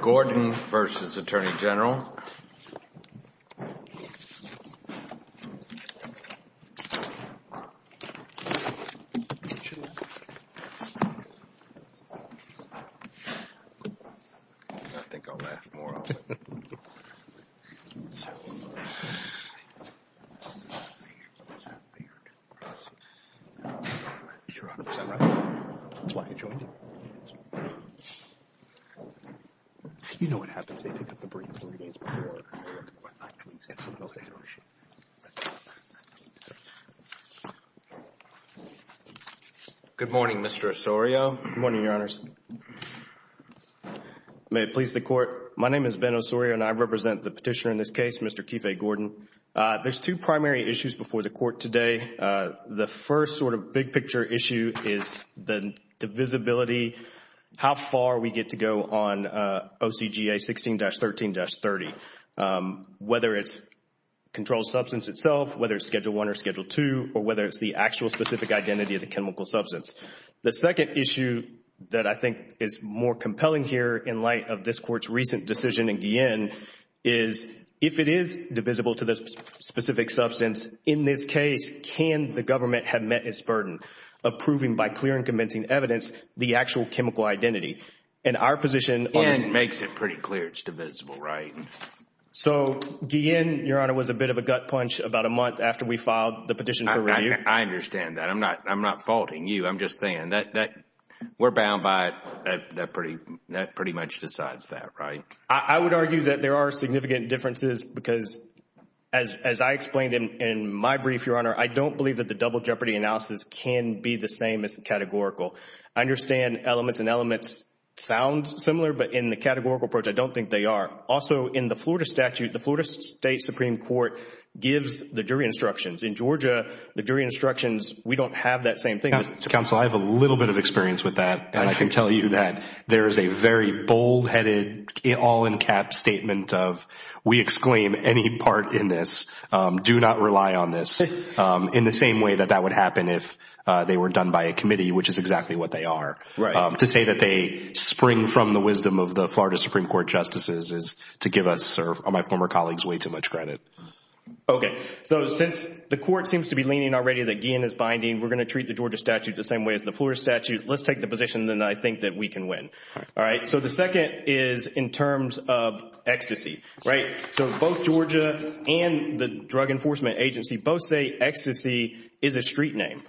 Gordon v. Attorney General Good morning, Mr. Osorio. Good morning, Your Honors. May it please the Court. My name is Ben Osorio, and I represent the petitioner in this case, Mr. Keefe Gordon. There are two primary issues before the Court today. The first sort of big picture issue is the divisibility, how far we get to go on OCGA 16-13-30, whether it's controlled substance itself, whether it's Schedule I or Schedule II, or whether it's the actual specific identity of the chemical substance. The second issue that I think is more compelling here in light of this Court's recent decision in Guillén is if it is divisible to the specific substance, in this case, can the government have met its burden of proving by clear and convincing evidence the actual chemical identity? And our position— Guillén makes it pretty clear it's divisible, right? So, Guillén, Your Honor, was a bit of a gut punch about a month after we filed the petition for review. I understand that. I'm not faulting you. I'm just saying that we're bound by it. That pretty much decides that, right? I would argue that there are significant differences because, as I explained in my brief, Your Honor, I don't believe that the double jeopardy analysis can be the same as the categorical. I understand elements and elements sound similar, but in the categorical approach, I don't think they are. Also, in the Florida statute, the Florida State Supreme Court gives the jury instructions. In Georgia, the jury instructions, we don't have that same thing. Counsel, I have a little bit of experience with that, and I can tell you that there is a very bold-headed, all-in-cap statement of, we exclaim any part in this, do not rely on this, in the same way that that would happen if they were done by a committee, which is exactly what they are. Right. To say that they spring from the wisdom of the Florida Supreme Court justices is to give us or my former colleagues way too much credit. Okay. So, since the court seems to be leaning already that Guillén is binding, we're going to treat the Georgia statute the same way as the Florida statute. Let's take the position that I think that we can win. All right. So, the second is in terms of ecstasy, right? So, both Georgia and the Drug Enforcement Agency both say ecstasy is a street name.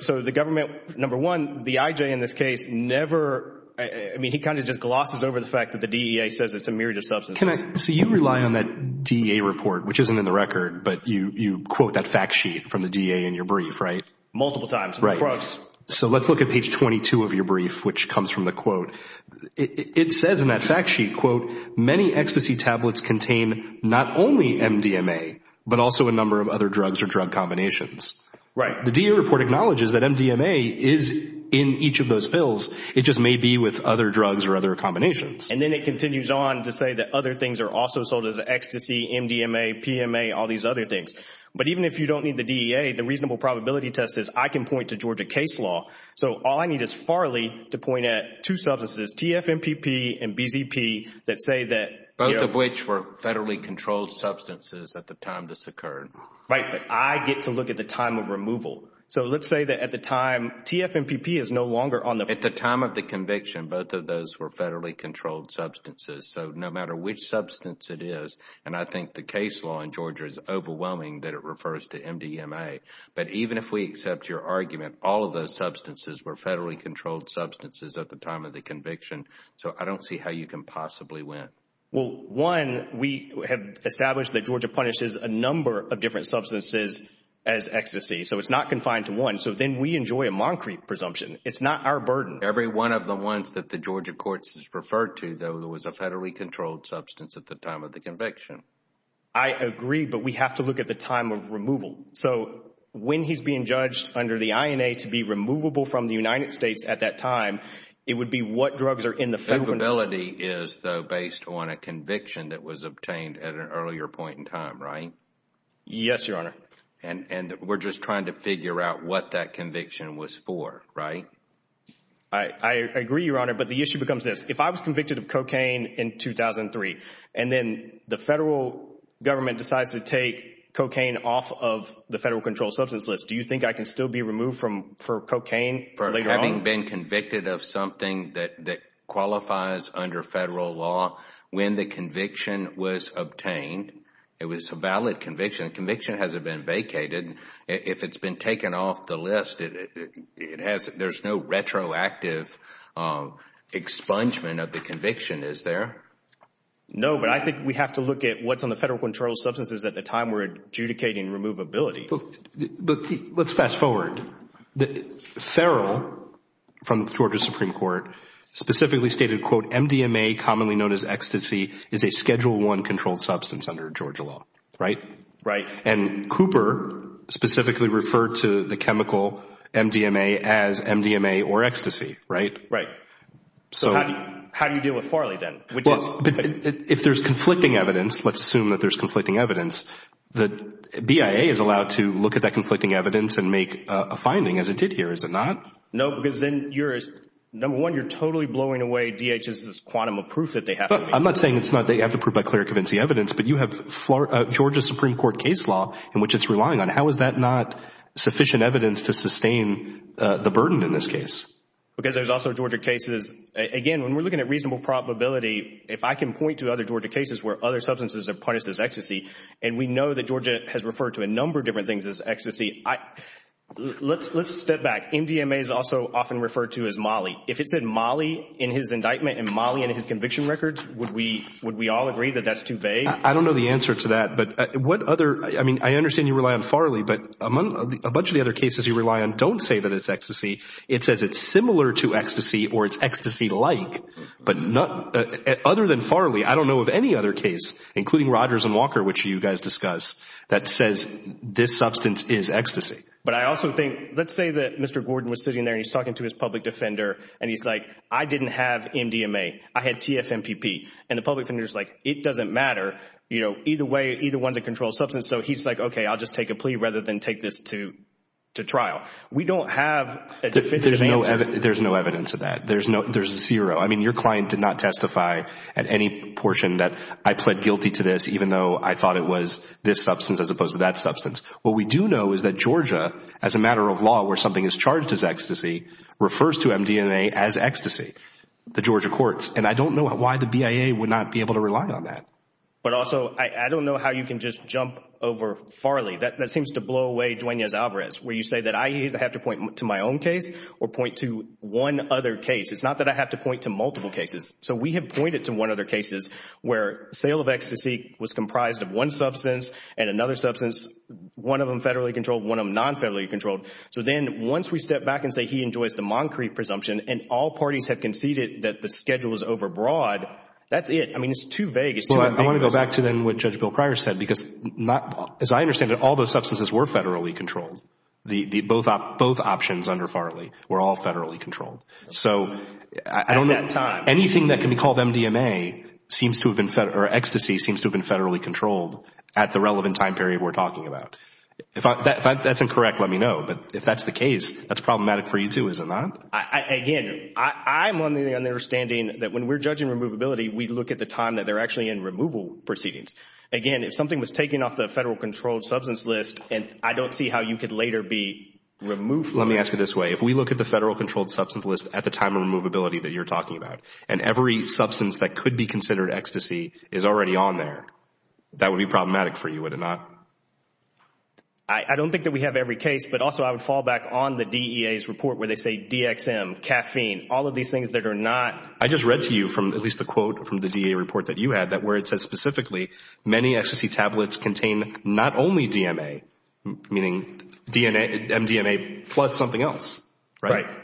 So, the government, number one, the IJ in this case never, I mean, he kind of just glosses over the fact that the DEA says it's a myriad of substances. So, you rely on that DEA report, which isn't in the record, but you quote that fact sheet from the DEA in your brief, right? Multiple times in the approach. Right. So, let's look at page 22 of your brief, which comes from the quote. It says in that fact sheet, quote, many ecstasy tablets contain not only MDMA, but also a number of other drugs or drug combinations. Right. The DEA report acknowledges that MDMA is in each of those pills. It just may be with other drugs or other combinations. And then it continues on to say that other things are also sold as ecstasy, MDMA, PMA, all these other things. But even if you don't need the DEA, the reasonable probability test says I can point to Georgia case law. So, all I need is Farley to point at two substances, TFMPP and BZP, that say that— Both of which were federally controlled substances at the time this occurred. Right, but I get to look at the time of removal. So, let's say that at the time, TFMPP is no longer on the— At the time of the conviction, both of those were federally controlled substances. So, no matter which substance it is, and I think the case law in Georgia is overwhelming that it refers to MDMA. But even if we accept your argument, all of those substances were federally controlled substances at the time of the conviction. So, I don't see how you can possibly win. Well, one, we have established that Georgia punishes a number of different substances as ecstasy. So, it's not confined to one. So, then we enjoy a Moncrete presumption. It's not our burden. Every one of the ones that the Georgia courts has referred to, though, was a federally controlled substance at the time of the conviction. I agree, but we have to look at the time of removal. So, when he's being judged under the INA to be removable from the United States at that time, it would be what drugs are in the federal— Removability is, though, based on a conviction that was obtained at an earlier point in time, right? Yes, Your Honor. And we're just trying to figure out what that conviction was for, right? I agree, Your Honor, but the issue becomes this. If I was convicted of cocaine in 2003, and then the federal government decides to take off the federal controlled substance list, do you think I can still be removed for cocaine later on? For having been convicted of something that qualifies under federal law, when the conviction was obtained, it was a valid conviction. The conviction hasn't been vacated. If it's been taken off the list, there's no retroactive expungement of the conviction, is there? No, but I think we have to look at what's on the federal controlled substances at the Let's fast forward. Feral, from the Georgia Supreme Court, specifically stated, quote, MDMA, commonly known as ecstasy, is a Schedule I controlled substance under Georgia law, right? Right. And Cooper specifically referred to the chemical MDMA as MDMA or ecstasy, right? Right. So how do you deal with Farley then? Well, if there's conflicting evidence, let's assume that there's conflicting evidence, that BIA is allowed to look at that conflicting evidence and make a finding as it did here, is it not? No, because then you're, number one, you're totally blowing away DHS's quantum of proof that they have. But I'm not saying it's not that you have to prove by clear and convincing evidence, but you have Georgia Supreme Court case law in which it's relying on. How is that not sufficient evidence to sustain the burden in this case? Because there's also Georgia cases, again, when we're looking at reasonable probability, if I can point to other Georgia cases where other substances are punished as ecstasy, and we know that Georgia has referred to a number of different things as ecstasy, let's step back. MDMA is also often referred to as molly. If it said molly in his indictment and molly in his conviction records, would we all agree that that's too vague? I don't know the answer to that. But what other, I mean, I understand you rely on Farley, but a bunch of the other cases you rely on don't say that it's ecstasy. It says it's similar to ecstasy or it's ecstasy-like. But other than Farley, I don't know of any other case, including Rogers and Walker, which you guys discuss, that says this substance is ecstasy. But I also think, let's say that Mr. Gordon was sitting there and he's talking to his public defender, and he's like, I didn't have MDMA. I had TFMPP. And the public defender's like, it doesn't matter. Either way, either one's a controlled substance. So he's like, okay, I'll just take a plea rather than take this to trial. We don't have a definitive answer. There's no evidence of that. There's zero. I mean, your client did not testify at any portion that I pled guilty to this, even though I thought it was this substance as opposed to that substance. What we do know is that Georgia, as a matter of law, where something is charged as ecstasy, refers to MDMA as ecstasy, the Georgia courts. And I don't know why the BIA would not be able to rely on that. But also, I don't know how you can just jump over Farley. That seems to blow away Duenas-Alvarez, where you say that I either have to point to my own case or point to one other case. It's not that I have to point to multiple cases. So we have pointed to one other cases where sale of ecstasy was comprised of one substance and another substance, one of them federally controlled, one of them non-federally controlled. So then once we step back and say he enjoys the Moncrief presumption and all parties have conceded that the schedule is overbroad, that's it. I mean, it's too vague. Well, I want to go back to then what Judge Bill Pryor said, because as I understand it, all those substances were federally controlled. Both options under Farley were all federally controlled. So I don't know. At that time. Anything that can be called MDMA or ecstasy seems to have been federally controlled at the relevant time period we're talking about. If that's incorrect, let me know. But if that's the case, that's problematic for you too, isn't it? Again, I'm on the understanding that when we're judging removability, we look at the time that they're actually in removal proceedings. Again, if something was taken off the federal controlled substance list and I don't see how you could later be removed from that. Let me ask it this way. If we look at the federal controlled substance list at the time of removability that you're talking about and every substance that could be considered ecstasy is already on there, that would be problematic for you, would it not? I don't think that we have every case, but also I would fall back on the DEA's report where they say DXM, caffeine, all of these things that are not. I just read to you from at least the quote from the DEA report that you had that where it said specifically many ecstasy tablets contain not only DMA, meaning MDMA plus something else, right? Right.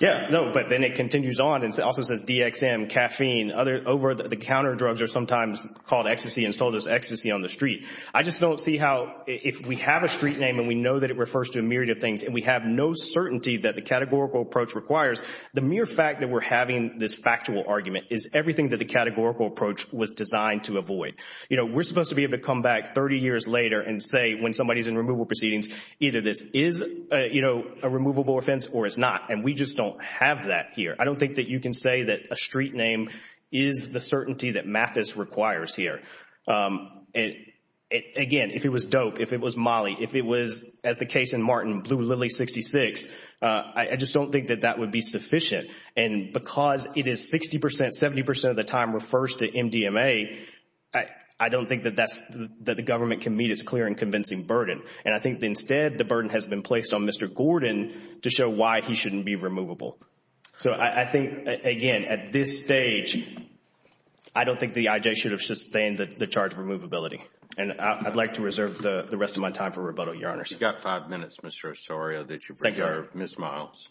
Yeah, no, but then it continues on and it also says DXM, caffeine, over the counter drugs are sometimes called ecstasy and sold as ecstasy on the street. I just don't see how if we have a street name and we know that it refers to a myriad of things and we have no certainty that the categorical approach requires, the mere fact that we're having this factual argument is everything that the categorical approach was designed to avoid. You know, we're supposed to be able to come back 30 years later and say when somebody is in removal proceedings, either this is a removable offense or it's not, and we just don't have that here. I don't think that you can say that a street name is the certainty that Mathis requires here. Again, if it was dope, if it was Molly, if it was, as the case in Martin, Blue Lily 66, I just don't think that that would be sufficient. And because it is 60%, 70% of the time refers to MDMA, I don't think that the government can meet its clear and convincing burden. And I think instead the burden has been placed on Mr. Gordon to show why he shouldn't be removable. So I think, again, at this stage, I don't think the IJ should have sustained the charge of removability. And I'd like to reserve the rest of my time for rebuttal, Your Honor. You've got five minutes, Mr. Osorio, that you've reserved. Ms. Miles.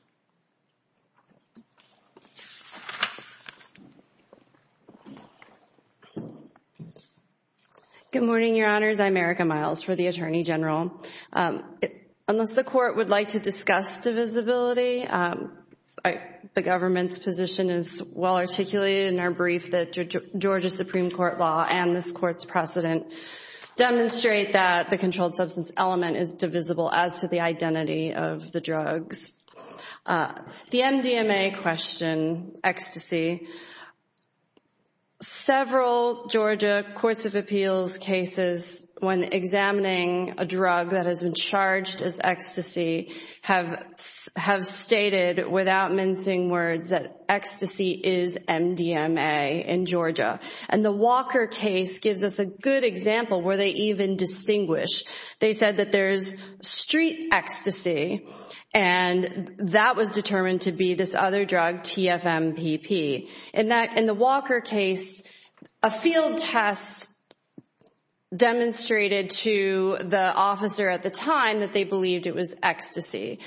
Good morning, Your Honors. I'm Erica Miles for the Attorney General. Unless the Court would like to discuss divisibility, the government's position is well articulated in our brief that Georgia Supreme Court law and this Court's precedent demonstrate that the controlled substance element is divisible as to the identity of the drugs. The MDMA question, ecstasy, several Georgia courts of appeals cases when examining a drug that has been charged as ecstasy have stated without mincing words that ecstasy is MDMA in Georgia. And the Walker case gives us a good example where they even distinguish. They said that there's street ecstasy and that was determined to be this other drug, TFMPP. In the Walker case, a field test demonstrated to the officer at the time that they believed it was ecstasy.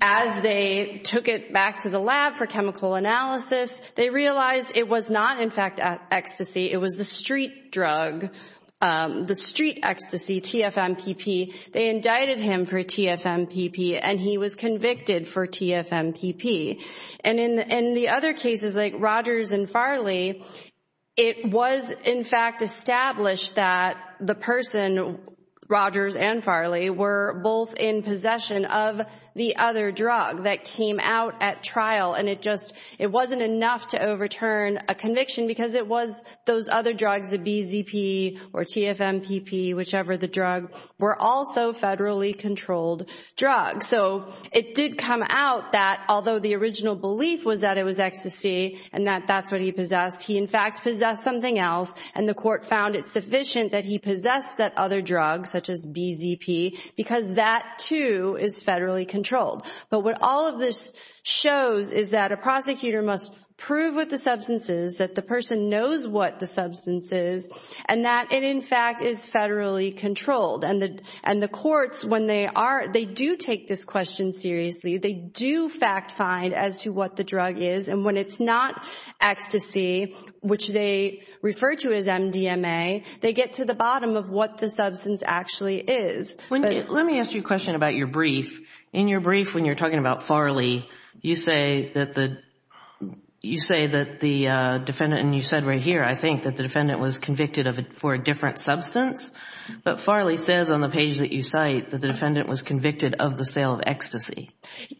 As they took it back to the lab for chemical analysis, they realized it was not, in fact, ecstasy. It was the street drug, the street ecstasy, TFMPP. They indicted him for TFMPP and he was convicted for TFMPP. And in the other cases like Rogers and Farley, it was, in fact, established that the person, Rogers and Farley, were both in possession of the other drug that came out at trial and it just wasn't enough to overturn a conviction because it was those other drugs, the BZP or TFMPP, whichever the drug, were also federally controlled drugs. So it did come out that, although the original belief was that it was ecstasy and that that's what he possessed, he, in fact, possessed something else and the court found it sufficient that he possessed that other drug, such as BZP, because that, too, is federally controlled. But what all of this shows is that a prosecutor must prove what the substance is, that the person knows what the substance is, and that it, in fact, is federally controlled. And the courts, when they do take this question seriously, they do fact-find as to what the drug is. And when it's not ecstasy, which they refer to as MDMA, they get to the bottom of what the substance actually is. Let me ask you a question about your brief. In your brief, when you're talking about Farley, you say that the defendant, and you said right here, I think, that the defendant was convicted for a different substance. But Farley says on the page that you cite that the defendant was convicted of the sale of ecstasy.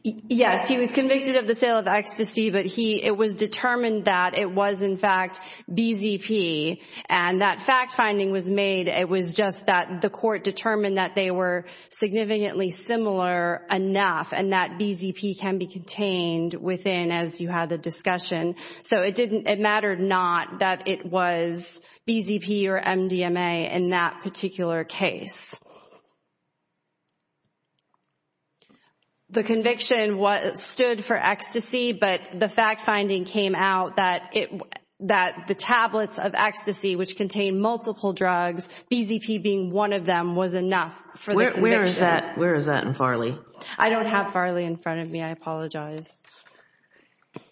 Yes, he was convicted of the sale of ecstasy, but it was determined that it was, in fact, BZP. And that fact-finding was made. It was just that the court determined that they were significantly similar enough and that BZP can be contained within, as you had the discussion. So it mattered not that it was BZP or MDMA in that particular case. The conviction stood for ecstasy, but the fact-finding came out that the tablets of ecstasy, which contain multiple drugs, BZP being one of them was enough for the conviction. Where is that in Farley? I don't have Farley in front of me. I apologize.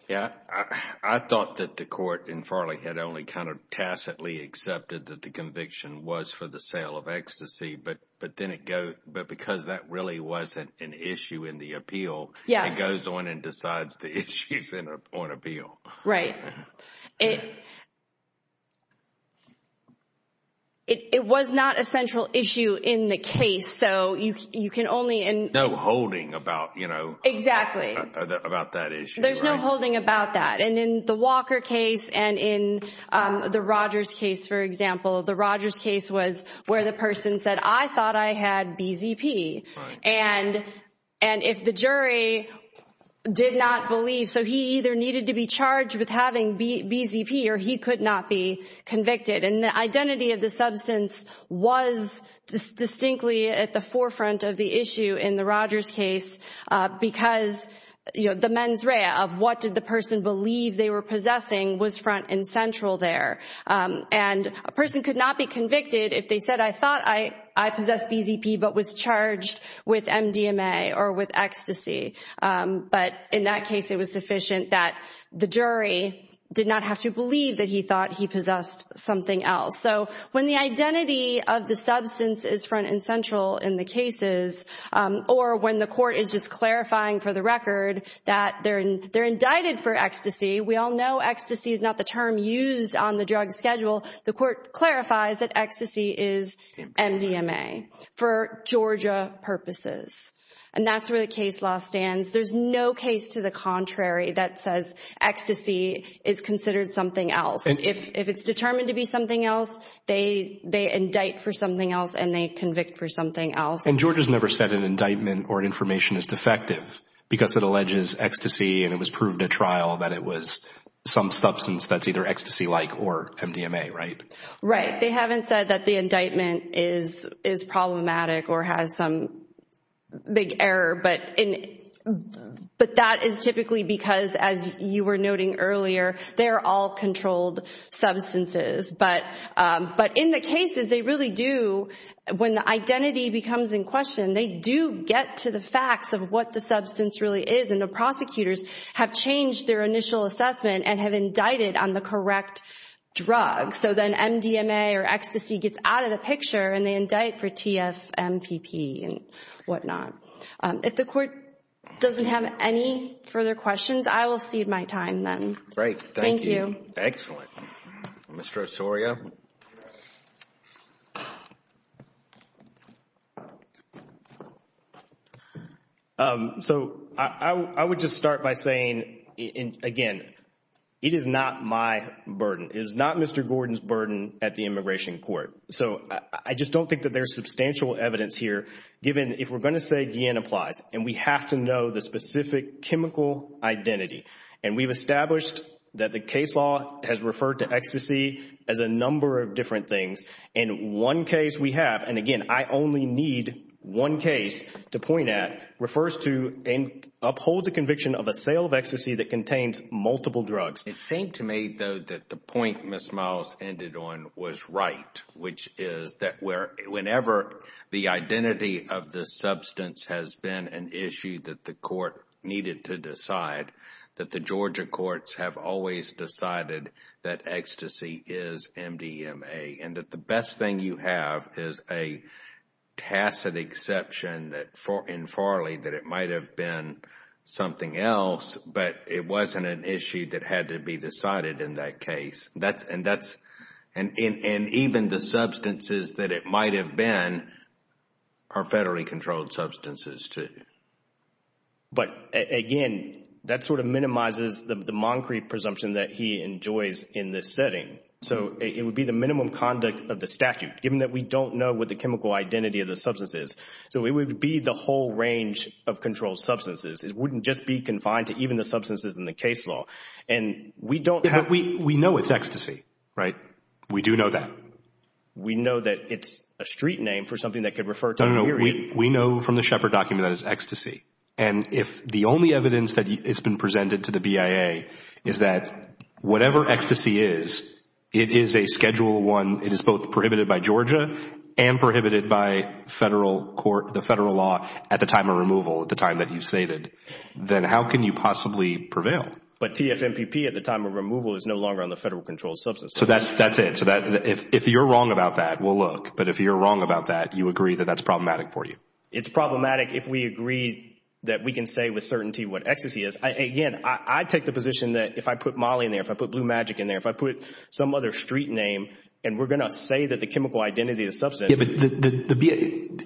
I thought that the court in Farley had only kind of tacitly accepted that the conviction was for the sale of ecstasy, but because that really wasn't an issue in the appeal, it goes on and decides the issues on appeal. Right. It was not a central issue in the case, so you can only... No holding about, you know... Exactly. ...about that issue. There's no holding about that. And in the Walker case and in the Rogers case, for example, the Rogers case was where the person said, I thought I had BZP. And if the jury did not believe, so he either needed to be charged with having BZP or he could not be convicted. And the identity of the substance was distinctly at the forefront of the issue in the Rogers case because the mens rea of what did the person believe they were possessing was front and central there. And a person could not be convicted if they said, I thought I possessed BZP but was charged with MDMA or with ecstasy. But in that case, it was sufficient that the jury did not have to believe that he thought he possessed something else. So when the identity of the substance is front and central in the cases or when the court is just clarifying for the record that they're indicted for ecstasy, we all know ecstasy is not the term used on the drug schedule, the court clarifies that ecstasy is MDMA for Georgia purposes. And that's where the case law stands. There's no case to the contrary that says ecstasy is considered something else. If it's determined to be something else, they indict for something else and they convict for something else. And Georgia's never said an indictment or an information is defective because it alleges ecstasy and it was proved at trial that it was some substance that's either ecstasy-like or MDMA, right? Right. They haven't said that the indictment is problematic or has some big error, but that is typically because, as you were noting earlier, they're all controlled substances. But in the cases, they really do, when the identity becomes in question, they do get to the facts of what the substance really is and the prosecutors have changed their initial assessment and have indicted on the correct drug. So then MDMA or ecstasy gets out of the picture and they indict for TFMPP and whatnot. If the court doesn't have any further questions, I will cede my time then. Great, thank you. Thank you. Excellent. Mr. Osorio? So I would just start by saying, again, it is not my burden. It is not Mr. Gordon's burden at the Immigration Court. So I just don't think that there is substantial evidence here, given if we're going to say Guillen applies and we have to know the specific chemical identity and we've established that the case law has referred to ecstasy as a number of different things. And one case we have, and again, I only need one case to point at, refers to and upholds a conviction of a sale of ecstasy that contains multiple drugs. It seemed to me, though, that the point Ms. Miles ended on was right, which is that whenever the identity of the substance has been an issue that the court needed to decide, that the Georgia courts have always decided that ecstasy is MDMA and that the best thing you have is a tacit exception in Farley that it might have been something else, but it wasn't an issue that had to be decided in that case. And even the substances that it might have been are federally controlled substances too. But again, that sort of minimizes the Moncrieff presumption that he enjoys in this setting. So it would be the minimum conduct of the statute, given that we don't know what the chemical identity of the substance is. So it would be the whole range of controlled substances. It wouldn't just be confined to even the substances in the case law. But we know it's ecstasy, right? We do know that. We know that it's a street name for something that could refer to a period. No, no, no. We know from the Shepard document that it's ecstasy. And if the only evidence that has been presented to the BIA is that whatever ecstasy is, it is a Schedule I, it is both prohibited by Georgia and prohibited by the federal law at the time of removal, at the time that you've stated, then how can you possibly prevail? But TFMPP at the time of removal is no longer on the federal controlled substance. So that's it. So if you're wrong about that, we'll look. But if you're wrong about that, you agree that that's problematic for you. It's problematic if we agree that we can say with certainty what ecstasy is. Again, I take the position that if I put Molly in there, if I put Blue Magic in there, if I put some other street name and we're going to say that the chemical identity of the substance.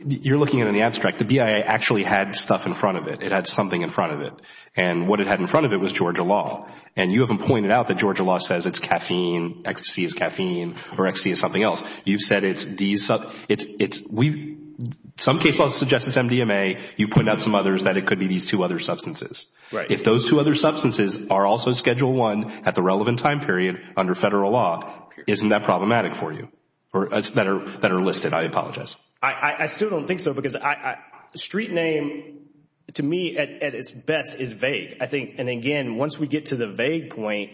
You're looking at it in the abstract. The BIA actually had stuff in front of it. It had something in front of it. And what it had in front of it was Georgia law. And you haven't pointed out that Georgia law says it's caffeine, ecstasy is caffeine, or ecstasy is something else. You've said it's these. Some case laws suggest it's MDMA. You've pointed out some others that it could be these two other substances. If those two other substances are also Schedule I at the relevant time period under federal law, isn't that problematic for you? That are listed. I apologize. I still don't think so because street name to me at its best is vague. I think, and again, once we get to the vague point,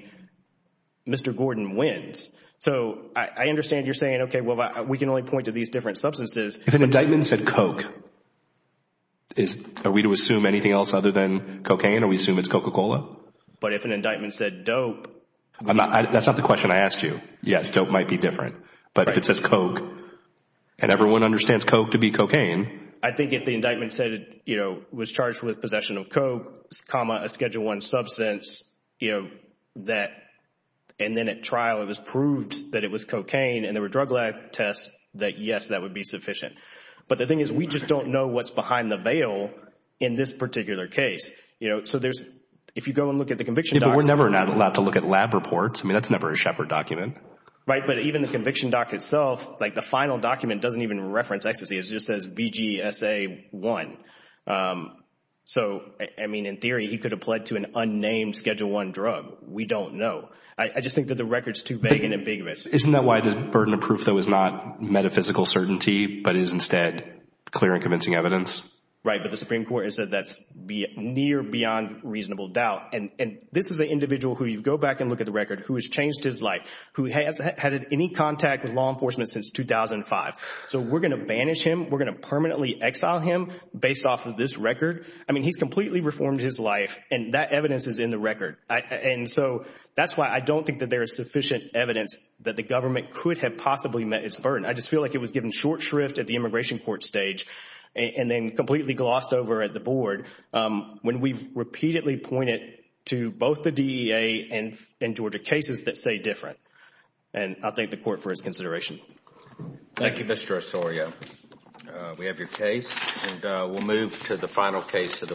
Mr. Gordon wins. So I understand you're saying, okay, well we can only point to these different substances. If an indictment said Coke, are we to assume anything else other than cocaine? Are we to assume it's Coca-Cola? But if an indictment said dope. That's not the question I asked you. Yes, dope might be different. But if it says Coke and everyone understands Coke to be cocaine. I think if the indictment said it was charged with possession of Coke, a Schedule I substance, and then at trial it was proved that it was cocaine and there were drug lab tests, that yes, that would be sufficient. But the thing is we just don't know what's behind the veil in this particular case. So if you go and look at the conviction docs. We're never allowed to look at lab reports. That's never a Shepard document. Right, but even the conviction doc itself, like the final document doesn't even reference ecstasy. It just says VGSA1. So, I mean, in theory he could have pled to an unnamed Schedule I drug. We don't know. I just think that the record is too vague and ambiguous. Isn't that why the burden of proof though is not metaphysical certainty but is instead clear and convincing evidence? Right, but the Supreme Court has said that's near beyond reasonable doubt. And this is an individual who you go back and look at the record who has changed his life, who hasn't had any contact with law enforcement since 2005. So we're going to banish him? We're going to permanently exile him based off of this record? I mean, he's completely reformed his life and that evidence is in the record. And so that's why I don't think that there is sufficient evidence that the government could have possibly met its burden. I just feel like it was given short shrift at the immigration court stage and then completely glossed over at the board when we've repeatedly pointed to both the DEA and Georgia cases that say different. And I thank the court for its consideration. Thank you, Mr. Osorio. We have your case and we'll move to the final case of the week.